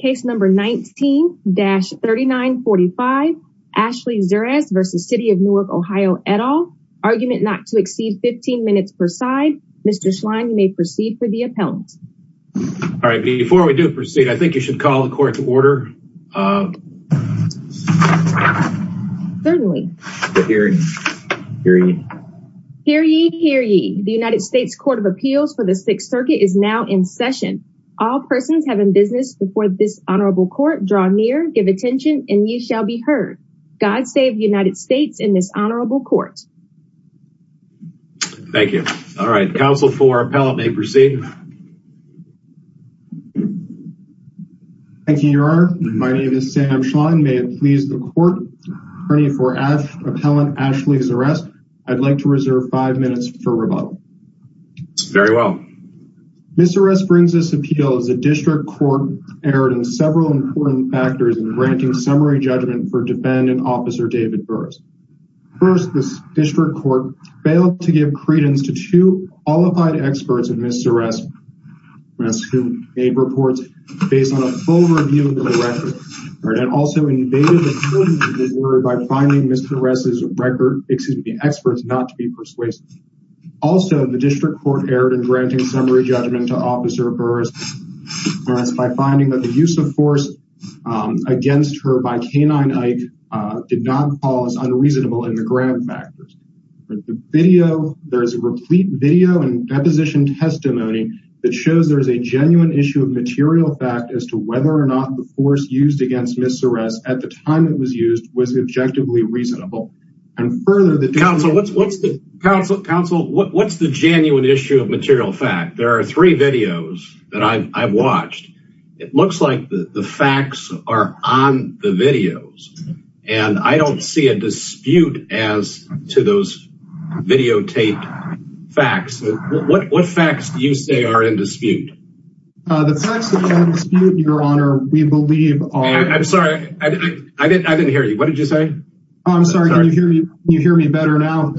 Case number 19-3945, Ashley Zuress v. City of Newark OH et al. Argument not to exceed 15 minutes per side. Mr. Schlein you may proceed for the appellant. All right before we do proceed I think you should call the court to order. Certainly. Hear ye, hear ye. Hear ye, hear ye. The United States Court of Appeals for the Sixth Circuit is now in session. All persons have in business before this honorable court draw near, give attention, and ye shall be heard. God save the United States in this honorable court. Thank you. All right counsel for appellant may proceed. Thank you, your honor. My name is Sam Schlein. May it please the court for appellant Ashley Zuress, I'd like to reserve five minutes for rebuttal. Very well. Ms. Zuress brings this appeal as a district court erred in several important factors in granting summary judgment for defendant officer David Burris. First, this district court failed to give credence to two qualified experts in Ms. Zuress who made reports based on a full review of the record and also invaded the importance of the word by finding Ms. Zuress's record, excuse me, experts not to be persuasive. Also the district court erred in granting summary judgment to officer Burris by finding that the use of force against her by K-9 Ike did not cause unreasonable in the grab factors. The video, there's a replete video and deposition testimony that shows there's a genuine issue of material fact as to whether or not the force used against Ms. Zuress at the time it was used was objectively reasonable and further the counsel what's what's the counsel counsel what's the genuine issue of material fact there are three videos that I've watched it looks like the facts are on the videos and I don't see a dispute as to those videotaped facts what what facts do you say are in dispute? The facts that are in dispute, your honor, we believe are. I'm sorry I didn't hear you what did you say I'm sorry you hear me better now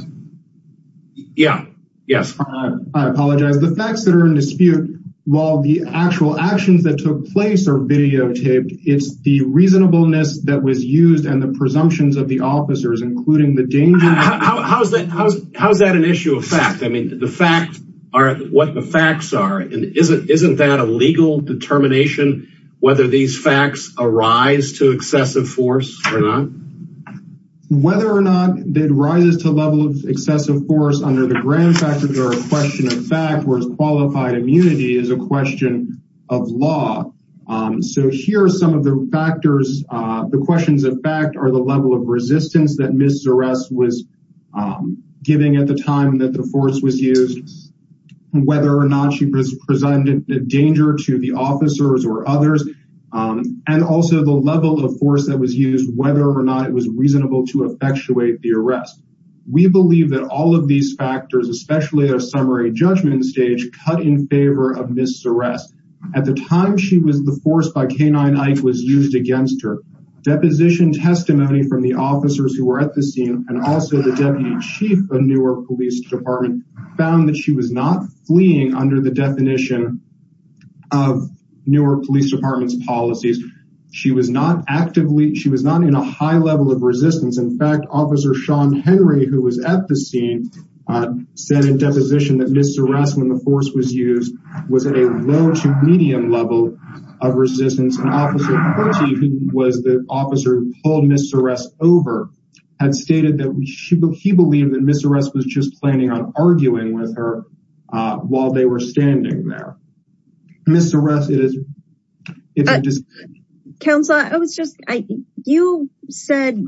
yeah yes I apologize the facts that are in dispute while the actual actions that took place are videotaped it's the reasonableness that was used and the presumptions of the officers including the danger how's that how's that an issue of fact I mean the facts are what the facts are and isn't isn't that a legal determination whether these facts arise to excessive force or not? Whether or not it rises to level of excessive force under the grand factors are a question of fact whereas qualified immunity is a question of law so here are some of the factors the questions of fact are the level of resistance that Ms. Zuress was giving at the time that the force was used whether or not she presented a danger to the officers or also the level of force that was used whether or not it was reasonable to effectuate the arrest. We believe that all of these factors especially a summary judgment stage cut in favor of Ms. Zuress. At the time she was the force by K-9 Ike was used against her. Deposition testimony from the officers who were at the scene and also the deputy chief of Newark Police Department found that she was not fleeing under the definition of Newark Police Department's she was not actively she was not in a high level of resistance in fact officer Sean Henry who was at the scene said in deposition that Ms. Zuress when the force was used was at a low to medium level of resistance and officer who was the officer who pulled Ms. Zuress over had stated that he believed that Ms. Zuress was just planning on arguing with her while they were standing there. Ms. Zuress it is. Counselor I was just I you said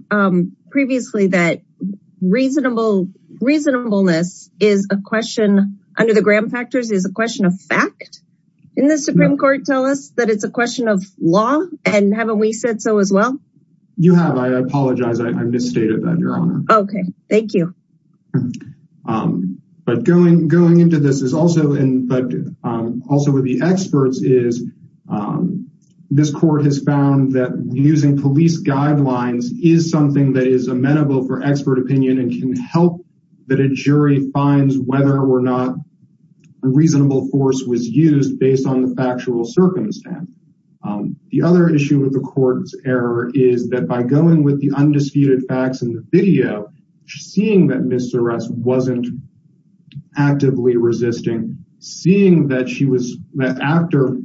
previously that reasonable reasonableness is a question under the Graham factors is a question of fact in the Supreme Court tell us that it's a question of law and haven't we said so as well? You have I apologize I misstated that your honor. Okay thank you. But going going the experts is this court has found that using police guidelines is something that is amenable for expert opinion and can help that a jury finds whether or not a reasonable force was used based on the factual circumstance. The other issue with the court's error is that by going with the undisputed facts in the video seeing that Ms. Zuress wasn't actively resisting seeing that she was after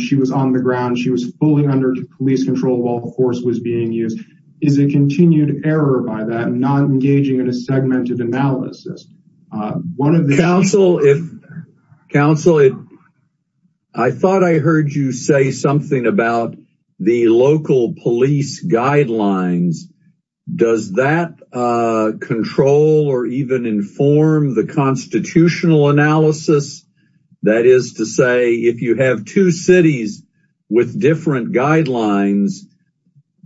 she was on the ground she was fully under police control while the force was being used is a continued error by that not engaging in a segmented analysis. One of the counsel if counsel it I thought I heard you say something about the local police guidelines does that control or even inform the constitutional analysis that is to say if you have two cities with different guidelines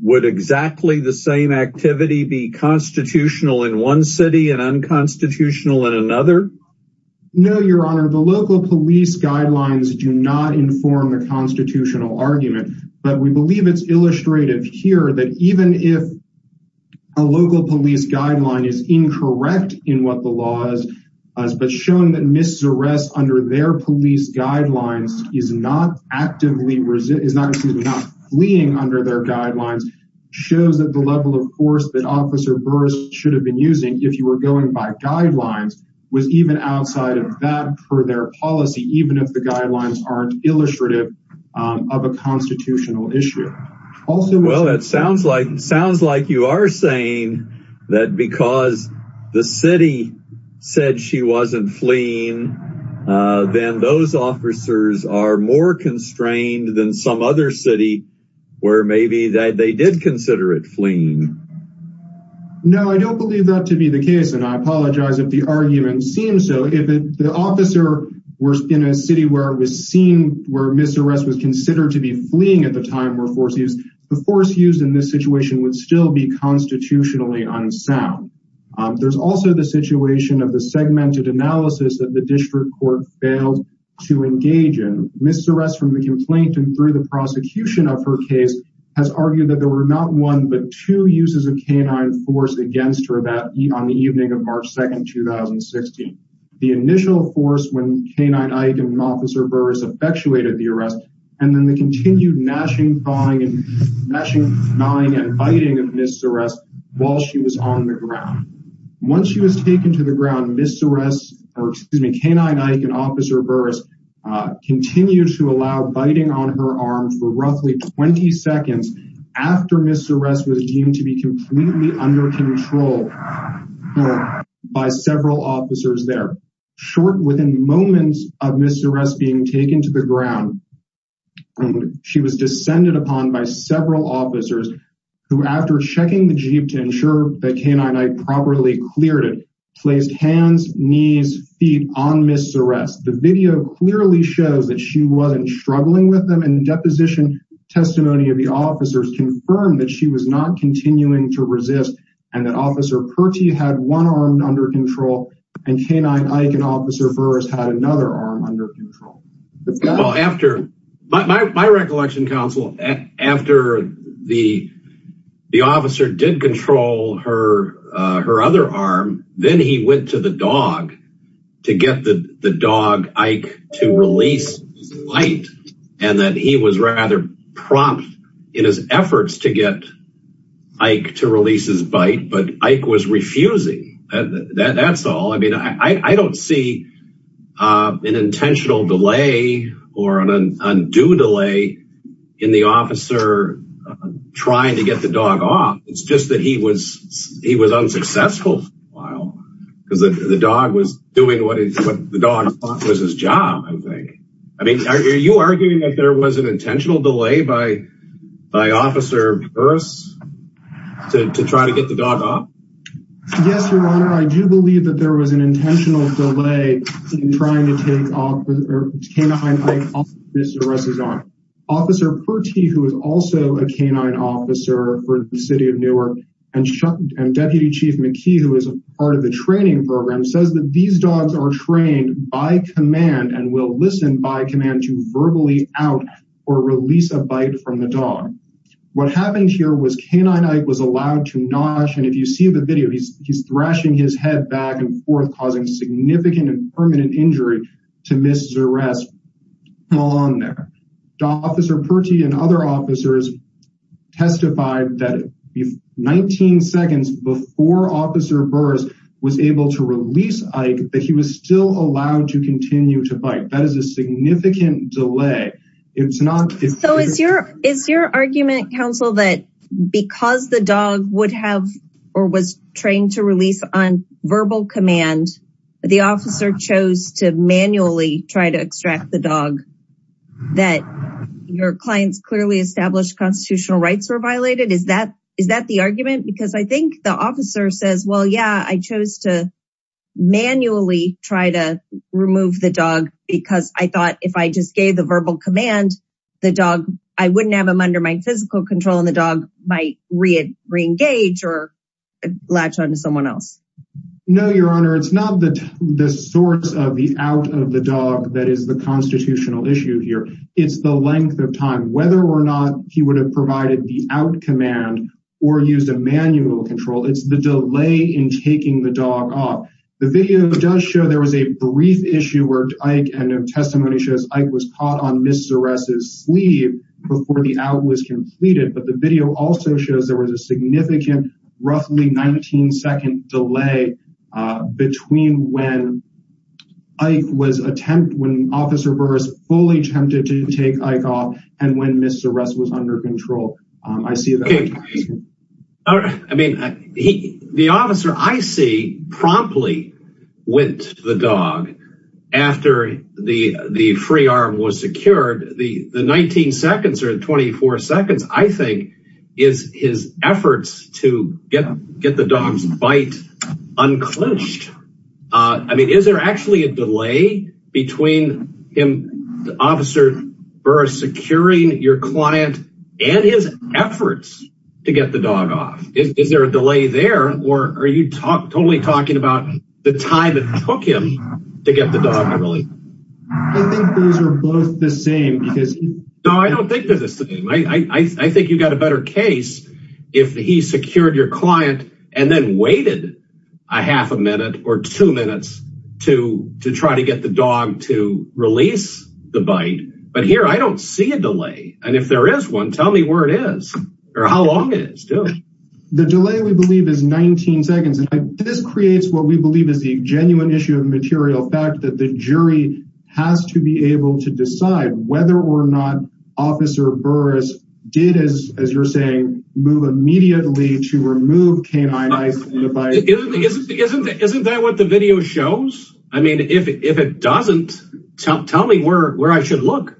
would exactly the same activity be constitutional in one city and unconstitutional in another? No your honor the local police guidelines do not inform the constitutional argument but we believe it's illustrative here that even if a local police guideline is incorrect in what the law is but shown that Ms. Zuress under their police guidelines is not actively resisting is not fleeing under their guidelines shows that the level of force that officer Burris should have been using if you were going by guidelines was even outside of that for their policy even if the guidelines aren't illustrative of a constitutional issue. Well it sounds like sounds like you are saying that because the city said she wasn't fleeing then those officers are more constrained than some other city where maybe that they did consider it fleeing. No I don't believe that to be the case and I apologize if the argument seems so if the officer were in a city where it was seen where Ms. Zuress was considered to be fleeing at the time where force used the force used in this situation would still be constitutionally unsound there's also the situation of the segmented analysis that the district court failed to engage in Ms. Zuress from the complaint and through the prosecution of her case has argued that there were not one but two uses of canine force against her that on the evening of March 2nd 2016 the initial force when officer Burris effectuated the arrest and then they continued gnashing, clawing and gnashing, gnawing and biting of Ms. Zuress while she was on the ground. Once she was taken to the ground Ms. Zuress or excuse me canine officer Burris continued to allow biting on her arm for roughly 20 seconds after Ms. Zuress was deemed to be under control by several officers there. Short within moments of Ms. Zuress being taken to the ground she was descended upon by several officers who after checking the jeep to ensure the canine properly cleared it placed hands knees feet on Ms. Zuress. The video clearly shows that she wasn't struggling with them and deposition testimony of the officers confirmed that she was not continuing to resist and that officer Purty had one arm under control and canine Ike and officer Burris had another arm under control. After my recollection counsel after the the officer did control her her other arm then he went to the dog to get the the dog Ike to release light and that he was rather prompt in his efforts to get Ike to release his bite but Ike was refusing that's all I mean I don't see an intentional delay or an undue delay in the officer trying to get the dog off it's just that he was he was unsuccessful while because the dog was doing what the dog was his job I think I believe that there was an intentional delay by by officer Burris to try to get the dog off yes your honor I do believe that there was an intentional delay in trying to take off Officer Purty who is also a canine officer for the city of Newark and deputy chief McKee who is a part of the training program says that these dogs are trained by command and will listen by command to verbally out or release a bite from the dog what happened here was canine Ike was allowed to nosh and if you see the video he's he's thrashing his head back and forth causing significant and permanent injury to Ms. Zurest along there. Officer Purty and other officers testified that 19 seconds before officer Burris was able to release Ike but he was still allowed to continue to bite that is a so is your is your argument counsel that because the dog would have or was trained to release on verbal command the officer chose to manually try to extract the dog that your clients clearly established constitutional rights were violated is that is that the argument because I think the officer says well yeah I chose to manually try to remove the dog because I thought if I just gave the verbal command the dog I wouldn't have him under my physical control and the dog might re-engage or latch on to someone else no your honor it's not the the source of the out of the dog that is the constitutional issue here it's the length of time whether or not he would have provided the out command or used a manual control it's the delay in taking the dog off the video does show there was a brief issue where Ike testimony shows Ike was caught on Ms. Zurest's sleeve before the out was completed but the video also shows there was a significant roughly 19 second delay between when Ike was attempt when officer Burris fully attempted to take Ike off and when Ms. Zurest was under the dog after the the free arm was secured the the 19 seconds or 24 seconds I think is his efforts to get get the dog's bite unclenched I mean is there actually a delay between him officer Burris securing your client and his efforts to get the dog off is there a delay there or are you talk totally talking about the time it took him to get the dog I don't think I think you got a better case if he secured your client and then waited a half a minute or two minutes to to try to get the dog to release the bite but here I don't see a delay and if there is one tell me where it is or how long is the delay we believe is the genuine issue of material fact that the jury has to be able to decide whether or not officer Burris did as as you're saying move immediately to remove canine eyes isn't that what the video shows I mean if it doesn't tell me where where I should look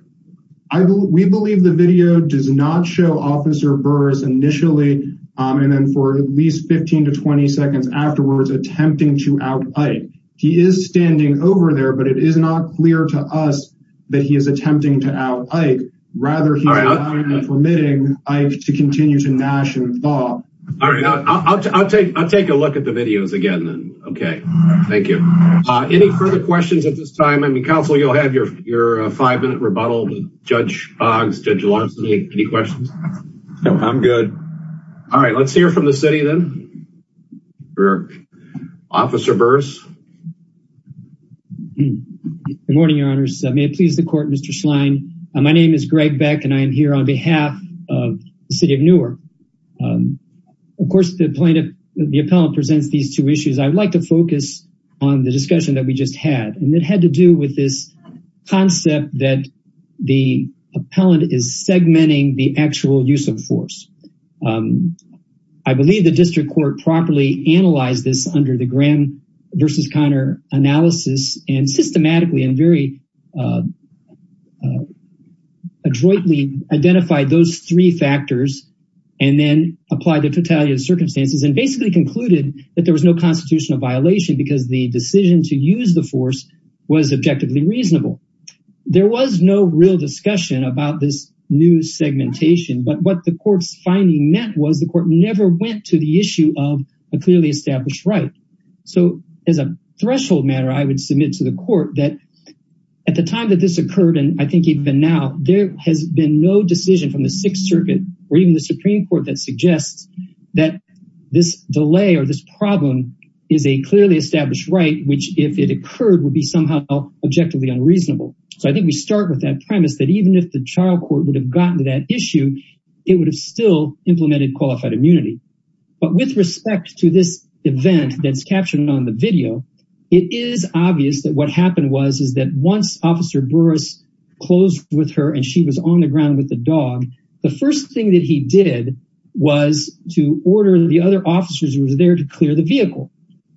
I believe we believe the video does not show officer Burris initially and then for at least 15 to 20 seconds afterwards attempting to out Ike he is standing over there but it is not clear to us that he is attempting to out Ike rather than permitting Ike to continue to gnash and thaw I'll take I'll take a look at the videos again then okay thank you any further questions at this time I mean counsel you'll have your your five minute rebuttal with Judge Boggs Judge Lawson any questions no I'm good all we're officer Burris good morning your honors may it please the court mr. Schlein my name is Greg Beck and I am here on behalf of the city of Newark of course the plaintiff the appellant presents these two issues I'd like to focus on the discussion that we just had and it had to do with this concept that the appellant is segmenting the actual use of force I believe the district court properly analyzed this under the Graham versus Connor analysis and systematically and very adroitly identified those three factors and then apply the totality of circumstances and basically concluded that there was no constitutional violation because the decision to use the force was objectively reasonable there was no real discussion about this new segmentation but what the court's finding net was the court never went to the issue of a clearly established right so as a threshold matter I would submit to the court that at the time that this occurred and I think even now there has been no decision from the Sixth Circuit or even the Supreme Court that suggests that this delay or this problem is a clearly established right which if it occurred would be somehow objectively unreasonable so I think we start with that premise that even if the trial court would have gotten to that issue it would have still implemented qualified immunity but with respect to this event that's captured on the video it is obvious that what happened was is that once officer Burris closed with her and she was on the ground with the dog the first thing that he did was to order the other officers who was there to clear the vehicle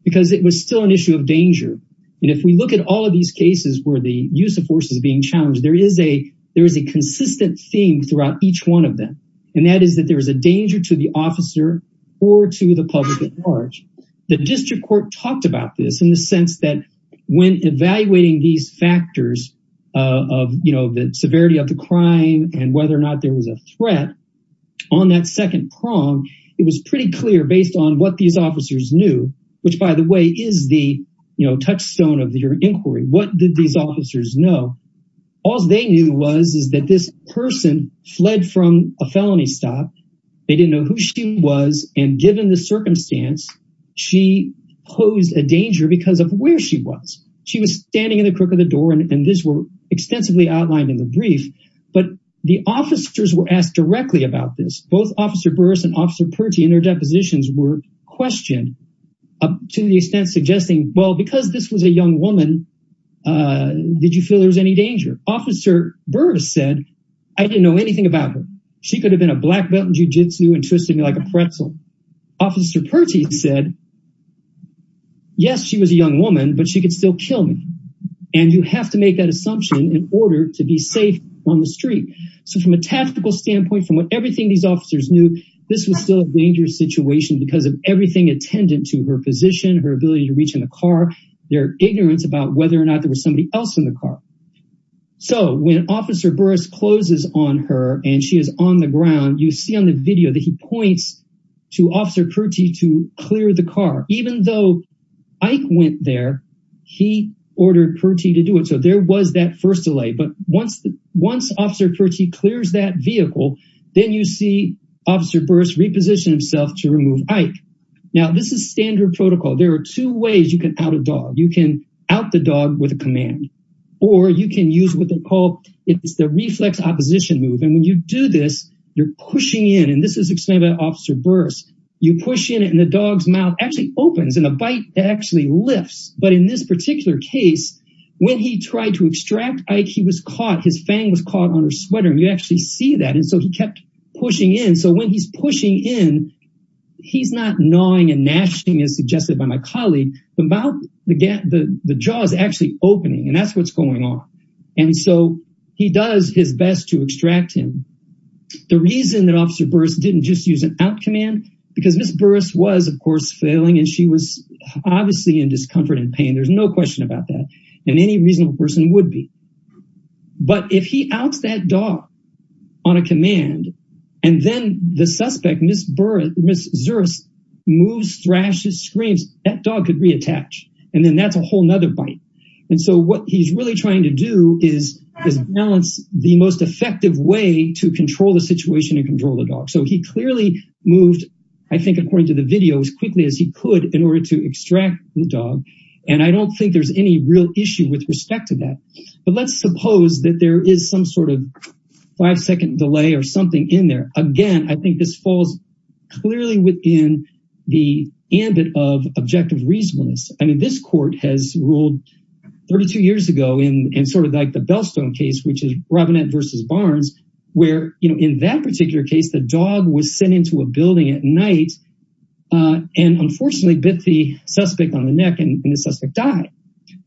because it was still an issue of danger and if we look at all of these cases where the use of force is being challenged there is a there is a consistent theme throughout each one of them and that is that there is a danger to the officer or to the public at large the district court talked about this in the sense that when evaluating these factors of you know the severity of the crime and whether or not there was a threat on that second prong it was pretty clear based on what these officers knew which by the way is the touchstone of your inquiry what did these officers know all they knew was is that this person fled from a felony stop they didn't know who she was and given the circumstance she posed a danger because of where she was she was standing in the crook of the door and this were extensively outlined in the brief but the officers were asked directly about this both officer Burris and officer Purty in their depositions were questioned up to the extent suggesting well because this was a young woman did you feel there's any danger officer Burris said I didn't know anything about her she could have been a black belt in jujitsu and twisting like a pretzel officer Purty said yes she was a young woman but she could still kill me and you have to make that assumption in order to be safe on the street so from a tactical standpoint from what everything these officers knew this was still a dangerous situation because of attendant to her position her ability to reach in the car their ignorance about whether or not there was somebody else in the car so when officer Burris closes on her and she is on the ground you see on the video that he points to officer Purty to clear the car even though Ike went there he ordered Purty to do it so there was that first delay but once the once officer Purty clears that vehicle then you see officer Burris reposition himself to remove Ike now this is standard protocol there are two ways you can out a dog you can out the dog with a command or you can use what they call it's the reflex opposition move and when you do this you're pushing in and this is explained by officer Burris you push in and the dog's mouth actually opens and a bite actually lifts but in this particular case when he tried to extract Ike he was caught his fang was caught on her sweater and you actually see that and so he kept pushing in so when he's pushing in he's not gnawing and gnashing as suggested by my colleague the mouth again the the jaw is actually opening and that's what's going on and so he does his best to extract him the reason that officer Burris didn't just use an out command because miss Burris was of course failing and she was obviously in discomfort and pain there's no question about that and any reasonable person would be but if he outs that dog on a command and then the suspect miss Burris miss Zuris moves thrashes screams that dog could reattach and then that's a whole nother bite and so what he's really trying to do is is balance the most effective way to control the situation and control the dog so he clearly moved I think according to the video as quickly as he could in order to extract the dog and I don't think there's any real issue with respect to that but let's suppose that there is some sort of five-second delay or something in there again I think this falls clearly within the ambit of objective reasonableness I mean this court has ruled 32 years ago in and sort of like the Bellstone case which is Robinette versus Barnes where you know in that particular case the dog was sent into a building at night and unfortunately bit the suspect on the neck and the suspect died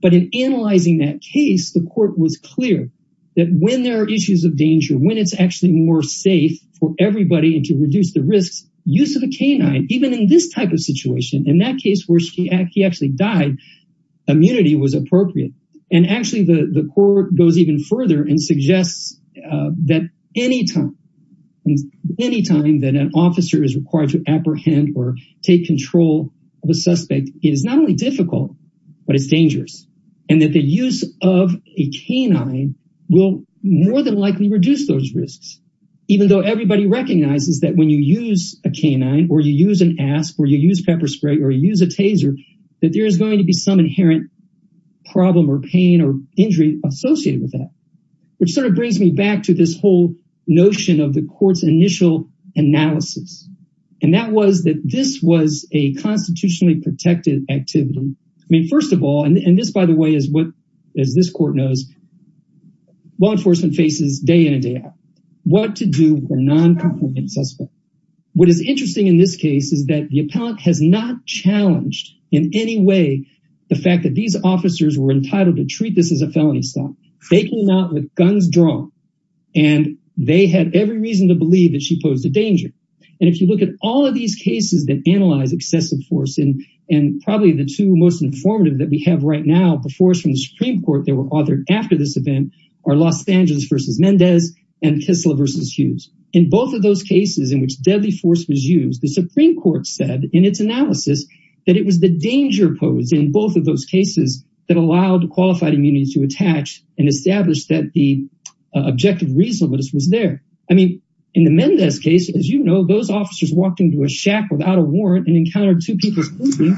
but in that case the court was clear that when there are issues of danger when it's actually more safe for everybody and to reduce the risks use of a canine even in this type of situation in that case where she actually died immunity was appropriate and actually the the court goes even further and suggests that anytime and anytime that an officer is required to apprehend or take control of it's dangerous and that the use of a canine will more than likely reduce those risks even though everybody recognizes that when you use a canine or you use an ask or you use pepper spray or use a taser that there is going to be some inherent problem or pain or injury associated with that which sort of brings me back to this whole notion of the courts initial analysis and that was that this was a constitutionally protected activity I mean first of all and this by the way is what as this court knows law enforcement faces day in and day out what to do for non-compliant suspects. What is interesting in this case is that the appellant has not challenged in any way the fact that these officers were entitled to treat this as a felony stop. They came out with guns drawn and they had every reason to believe that she posed a danger and if you look at all of these cases that analyze excessive force in and probably the two most informative that we have right now before us from the Supreme Court they were authored after this event are Los Angeles versus Mendez and Kistler versus Hughes. In both of those cases in which deadly force was used the Supreme Court said in its analysis that it was the danger posed in both of those cases that allowed qualified immunity to attach and establish that the objective reasonableness was there. I mean in the Mendez case as you know those officers walked into a shack without a warrant and encountered two people sleeping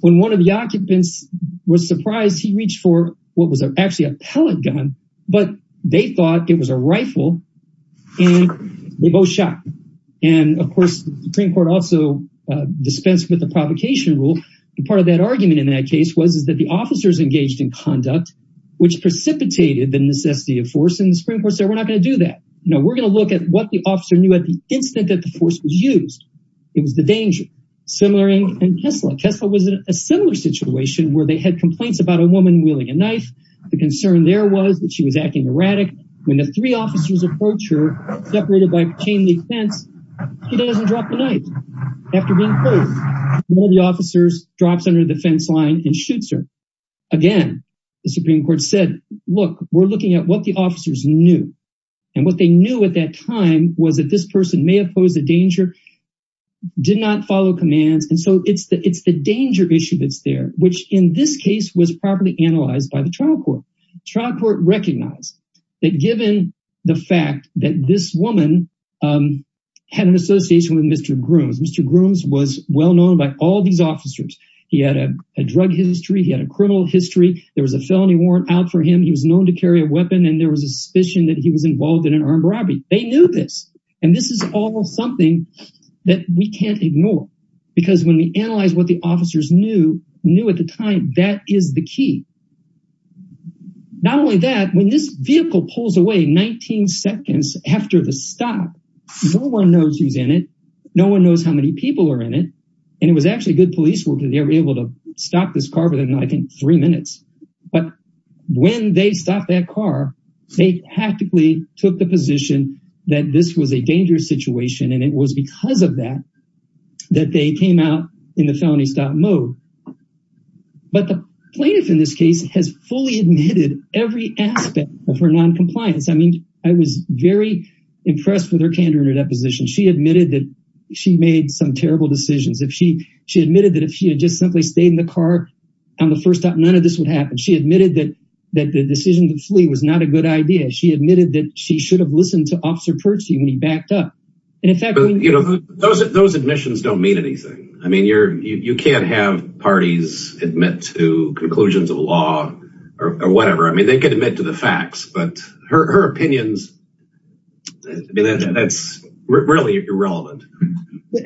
when one of the occupants was surprised he reached for what was a actually a pellet gun but they thought it was a rifle and they both shot and of course the Supreme Court also dispensed with the provocation rule and part of that argument in that case was is that the officers engaged in conduct which precipitated the necessity of force and the Supreme Court said we're not gonna do that. No we're gonna look at what the officer knew at the instant that the was the danger. Similar in Kistler. Kistler was in a similar situation where they had complaints about a woman wielding a knife. The concern there was that she was acting erratic. When the three officers approach her separated by a chain-link fence she doesn't drop the knife. After being pulled one of the officers drops under the fence line and shoots her. Again the Supreme Court said look we're looking at what the officers knew and what they knew at that time was that this person may have posed a danger did not follow commands and so it's the it's the danger issue that's there which in this case was properly analyzed by the trial court. Trial court recognized that given the fact that this woman had an association with Mr. Grooms. Mr. Grooms was well known by all these officers. He had a drug history. He had a criminal history. There was a felony warrant out for him. He was known to carry a weapon and there was a suspicion that he was something that we can't ignore because when we analyze what the officers knew knew at the time that is the key. Not only that when this vehicle pulls away 19 seconds after the stop no one knows who's in it. No one knows how many people are in it and it was actually good police work that they were able to stop this car within I think three minutes but when they stopped that car they practically took the position that this was a dangerous situation and it was because of that that they came out in the felony stop mode. But the plaintiff in this case has fully admitted every aspect of her non-compliance. I mean I was very impressed with her candor in her deposition. She admitted that she made some terrible decisions. If she she admitted that if she had just simply stayed in the car on the first stop none of this would happen. She admitted that the decision to flee was not a good idea. She admitted that she should have listened to Officer Percy when he backed up. Those admissions don't mean anything. I mean you can't have parties admit to conclusions of law or whatever. I mean they could admit to the facts but her opinions that's really irrelevant.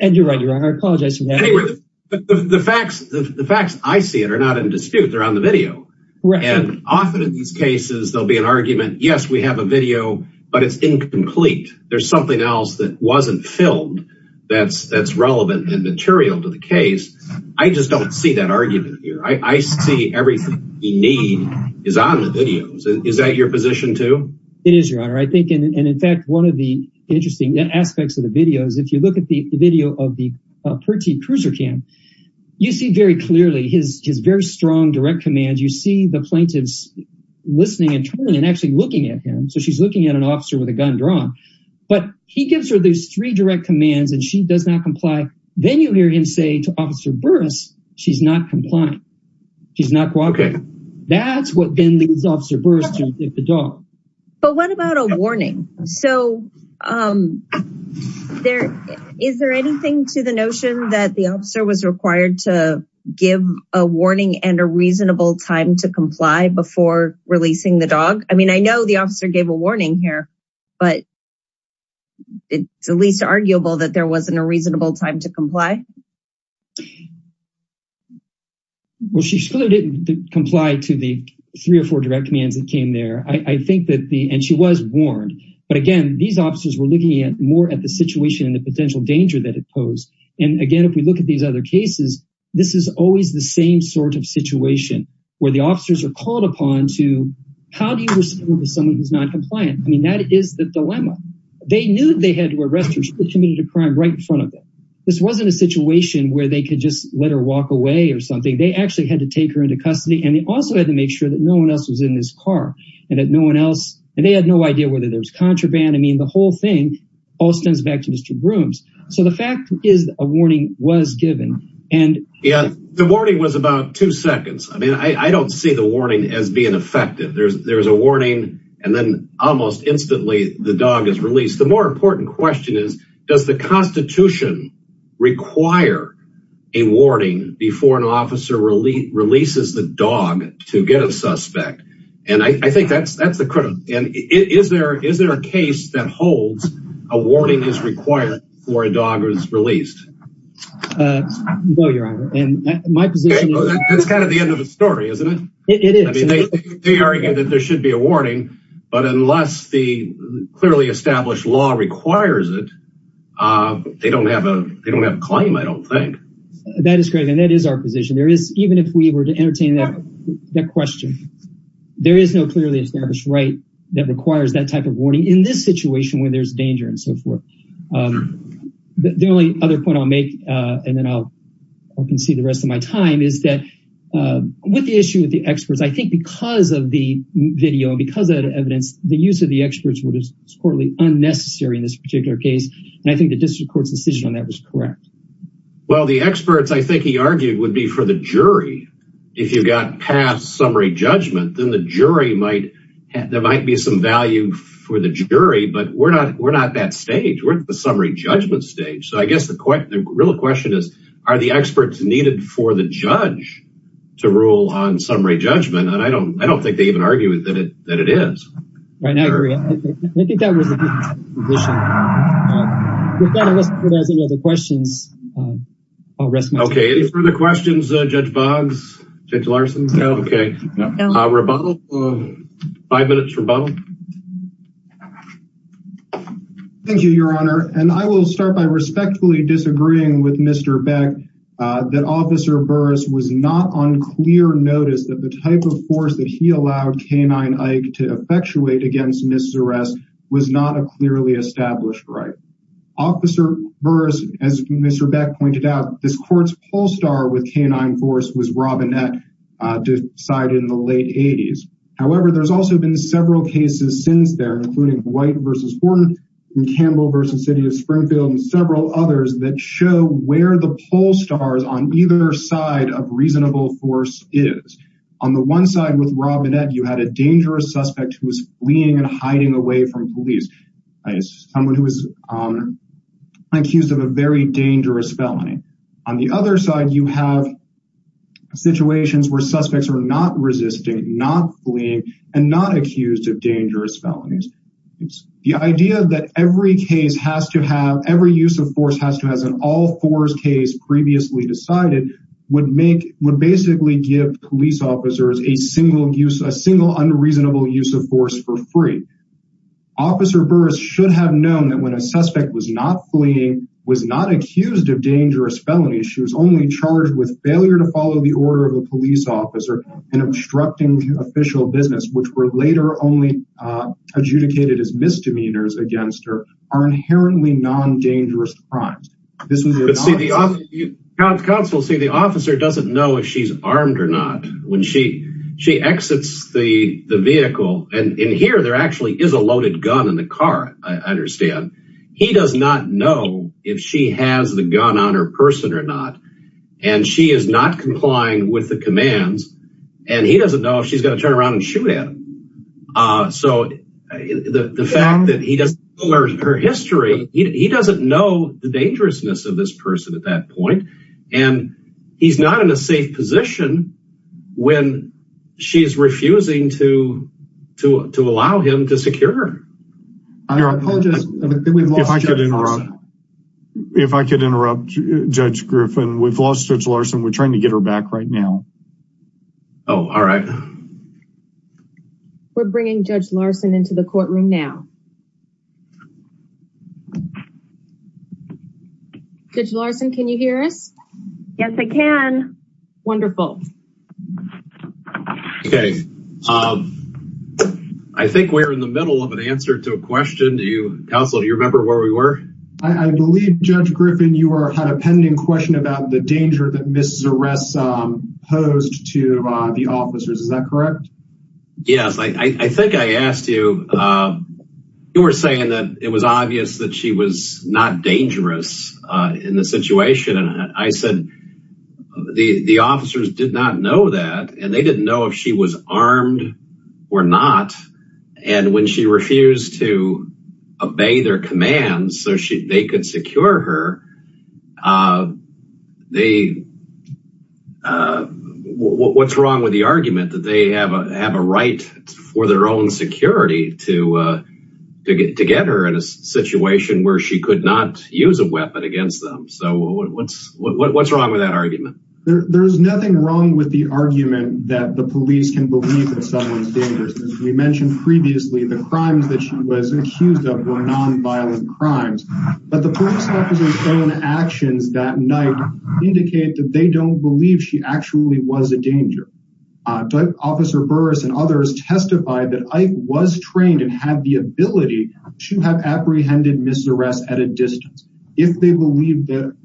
And you're right. I apologize for that. The facts I see it are not in dispute. They're on the video. And often in these cases there'll be an argument yes we have a video but it's incomplete. There's something else that wasn't filmed that's that's relevant and material to the case. I just don't see that argument here. I see everything he need is on the videos. Is that your position too? It is your honor. I think and in fact one of the interesting aspects of the video is if you look at the video of the Percy cruiser cam you see very clearly his very strong direct command. You see the plaintiffs listening and turning and actually looking at him. So she's looking at an officer with a gun drawn but he gives her those three direct commands and she does not comply. Then you hear him say to Officer Burris she's not complying. She's not cooperating. That's what then leads Officer Burris to hit the dog. But what about a warning? So is there anything to the notion that the officer was required to give a warning and a reasonable time to comply before releasing the dog? I mean I know the officer gave a warning here but it's at least arguable that there wasn't a reasonable time to comply. Well she still didn't comply to the three or four direct commands that came there. I think that the and she was warned but again these officers were looking at more at the situation and the potential danger that it posed. And this is always the same sort of situation where the officers are called upon to how do you respond to someone who's not compliant? I mean that is the dilemma. They knew they had to arrest her. She committed a crime right in front of them. This wasn't a situation where they could just let her walk away or something. They actually had to take her into custody and they also had to make sure that no one else was in this car and that no one else and they had no idea whether there was contraband. I mean the whole thing all stems back to Mr. Brooms. So the fact is a warning was given and yeah the warning was about two seconds. I mean I don't see the warning as being effective. There's a warning and then almost instantly the dog is released. The more important question is does the Constitution require a warning before an officer releases the dog to get a suspect? And I think that's the critical and is there a case that holds a warning is required before a dog is released? No, your honor. That's kind of the end of the story, isn't it? It is. They argue that there should be a warning but unless the clearly established law requires it, they don't have a claim, I don't think. That is correct and that is our position. Even if we were to entertain that question, there is no clearly established right that requires that type of warning in this case. The only other point I'll make and then I'll concede the rest of my time is that with the issue with the experts, I think because of the video, because of the evidence, the use of the experts was totally unnecessary in this particular case and I think the district court's decision on that was correct. Well, the experts I think he argued would be for the jury. If you got past summary judgment, then the jury might, there might be some value for the jury but we're not that stage. We're at the summary judgment stage so I guess the real question is are the experts needed for the judge to rule on summary judgment and I don't think they even argue that it is. Right, I agree. I think that was a good position. Without any further questions, I'll rest my time. Okay, any further questions, Judge Boggs, Judge Larson? No. Okay. Rebuttal. Five minutes rebuttal. Thank you, Your Honor, and I will start by respectfully disagreeing with Mr. Beck that Officer Burris was not on clear notice that the type of force that he allowed K-9 Ike to effectuate against Ms. Zurest was not a clearly established right. Officer Burris, as Mr. Beck pointed out, this court's poll star with K-9 force was Robinette decided in the late 80s. However, there's also been several cases since there, including White v. Horton and Campbell v. City of Springfield and several others that show where the poll stars on either side of reasonable force is. On the one side with Robinette, you had a dangerous suspect who was fleeing and accused of a very dangerous felony. On the other side, you have situations where suspects are not resisting, not fleeing, and not accused of dangerous felonies. The idea that every case has to have, every use of force has to have an all force case previously decided would make, would basically give police officers a single use, a single unreasonable use of force for free. Officer Burris should have known that when a suspect was not fleeing, was not accused of dangerous felonies, she was only charged with failure to follow the order of a police officer and obstructing official business, which were later only adjudicated as misdemeanors against her, are inherently non-dangerous crimes. But see, counsel, see the officer doesn't know if she's is a loaded gun in the car, I understand. He does not know if she has the gun on her person or not. And she is not complying with the commands. And he doesn't know if she's going to turn around and shoot at him. So the fact that he doesn't know her history, he doesn't know the dangerousness of this person at that point. And he's not in a safe position when she's refusing to, to, to allow him to secure her. I apologize. If I could interrupt Judge Griffin, we've lost Judge Larson. We're trying to get her back right now. Oh, all right. We're bringing Judge Larson into the courtroom now. Judge Larson, can you hear us? Yes, I can. Wonderful. Okay. I think we're in the middle of an answer to a question. Counsel, do you remember where we were? I believe, Judge Griffin, you had a pending question about the danger that Ms. Zeress posed to the officers. Is that correct? Yes. I think I asked you, you were saying that it was obvious that she was not dangerous in the situation. And I said, the officers didn't know that. And they didn't know if she was armed or not. And when she refused to obey their commands so they could secure her, what's wrong with the argument that they have a right for their own security to get her in a situation where she could not use a weapon against them? So what's wrong with that argument? There's nothing wrong with the argument that the police can believe that someone's dangerous. As we mentioned previously, the crimes that she was accused of were nonviolent crimes. But the police officer's own actions that night indicate that they don't believe she actually was a danger. Officer Burris and others testified that Ike was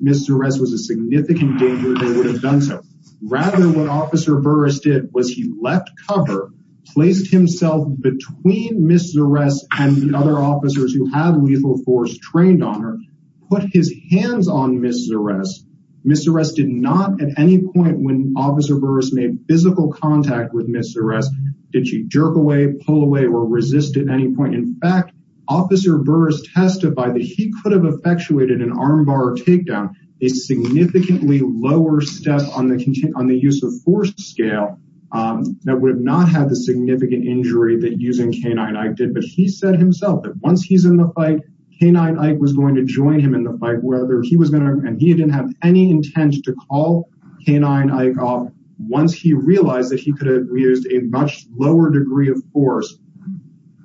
Ms. Zeress was a significant danger. Rather what Officer Burris did was he left cover, placed himself between Ms. Zeress and the other officers who have lethal force trained on her, put his hands on Ms. Zeress. Ms. Zeress did not at any point when Officer Burris made physical contact with Ms. Zeress, did she jerk away, pull away or resist at any point. In fact, Burris testified that he could have effectuated an armbar takedown, a significantly lower step on the use of force scale that would have not had the significant injury that using K-9 Ike did. But he said himself that once he's in the fight, K-9 Ike was going to join him in the fight. He didn't have any intent to call K-9 Ike off once he realized that he could have used a much lower degree of force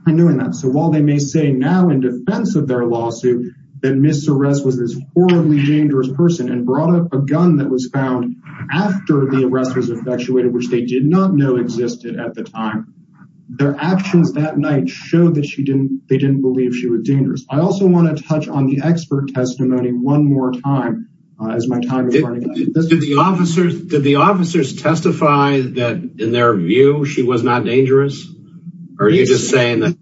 in doing that. So while they may say now in defense of their lawsuit that Ms. Zeress was this horribly dangerous person and brought up a gun that was found after the arrest was effectuated, which they did not know existed at the time, their actions that night showed that they didn't believe she was dangerous. I also want to touch on the expert view. She was not dangerous? Or are you just saying that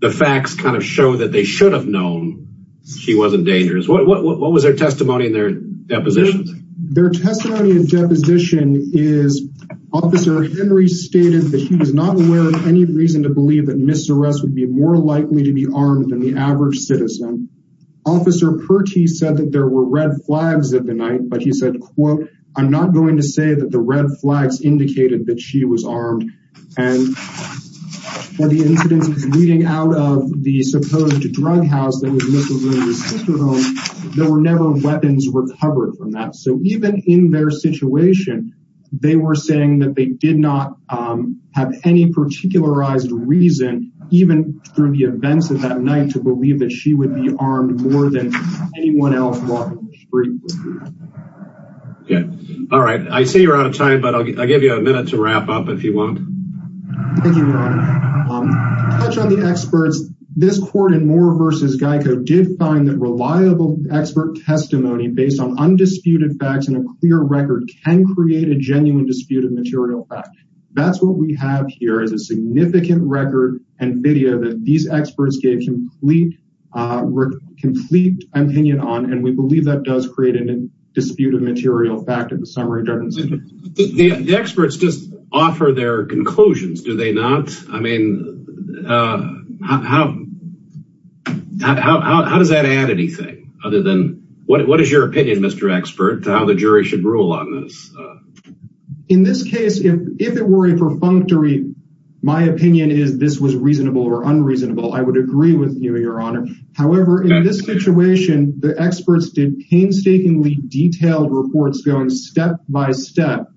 the facts kind of show that they should have known she wasn't dangerous? What was their testimony in their depositions? Their testimony and deposition is Officer Henry stated that he was not aware of any reason to believe that Ms. Zeress would be more likely to be armed than the average citizen. Officer Pertti said that there were red flags at the night, but he said, quote, I'm not going to say that the red flags indicated that she was armed. And for the incidents leading out of the supposed drug house that was Ms. Zeress' sister home, there were never weapons recovered from that. So even in their situation, they were saying that they did not have any particularized reason, even through the events of that night, to believe that she would be armed more than anyone else walking the street. Yeah. All right. I see you're out of time, but I'll give you a minute to wrap up if you want. Thank you, Ron. To touch on the experts, this court in Moore v. Geico did find that reliable expert testimony based on undisputed facts and a clear record can create a genuine dispute of material fact. That's what we have here is a significant record and video that these experts gave complete opinion on, and we believe that does create a dispute of material fact in the summary. The experts just offer their conclusions, do they not? I mean, how does that add anything other than what is your opinion, Mr. Expert, how the jury should rule on this? In this case, if it were a perfunctory, my opinion is this was reasonable or unreasonable, I would agree with you, Your Honor. However, in this situation, the experts did painstakingly detailed reports going step by step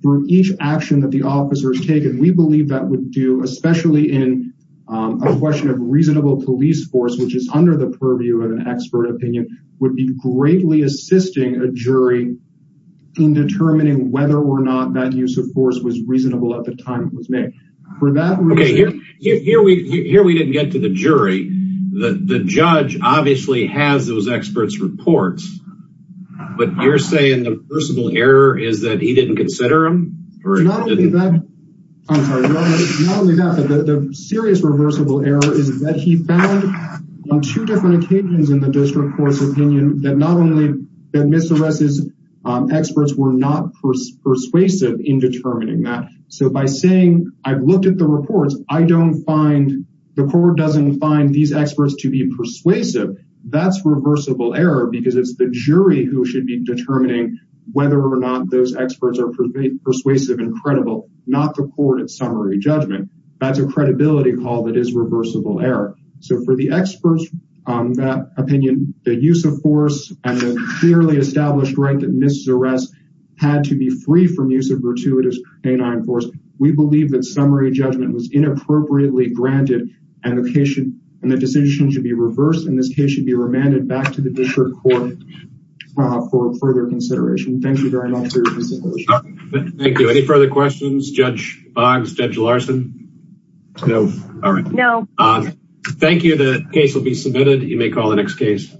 through each action that the officers take, and we believe that would do, especially in a question of reasonable police force, which is under the purview of an expert opinion, would be greatly assisting a jury in determining whether or not that use of force was reasonable at the time it was made. Okay, here we didn't get to the jury, the judge obviously has those experts' reports, but you're saying the reversible error is that he didn't consider them? Not only that, the serious reversible error is that he found on two different occasions in the district court's opinion that not only that Mr. West's persuasive in determining that. So by saying I've looked at the reports, I don't find, the court doesn't find these experts to be persuasive, that's reversible error because it's the jury who should be determining whether or not those experts are persuasive and credible, not the court at summary judgment. That's a credibility call that is reversible error. So for the experts on that opinion, the use of force and the clearly established right that had to be free from use of gratuitous force, we believe that summary judgment was inappropriately granted and the decision should be reversed and this case should be remanded back to the district court for further consideration. Thank you very much. Thank you. Any further questions, Judge Boggs, Judge Larson? No. All right. No. Thank you. The case will be submitted. You may call the next case.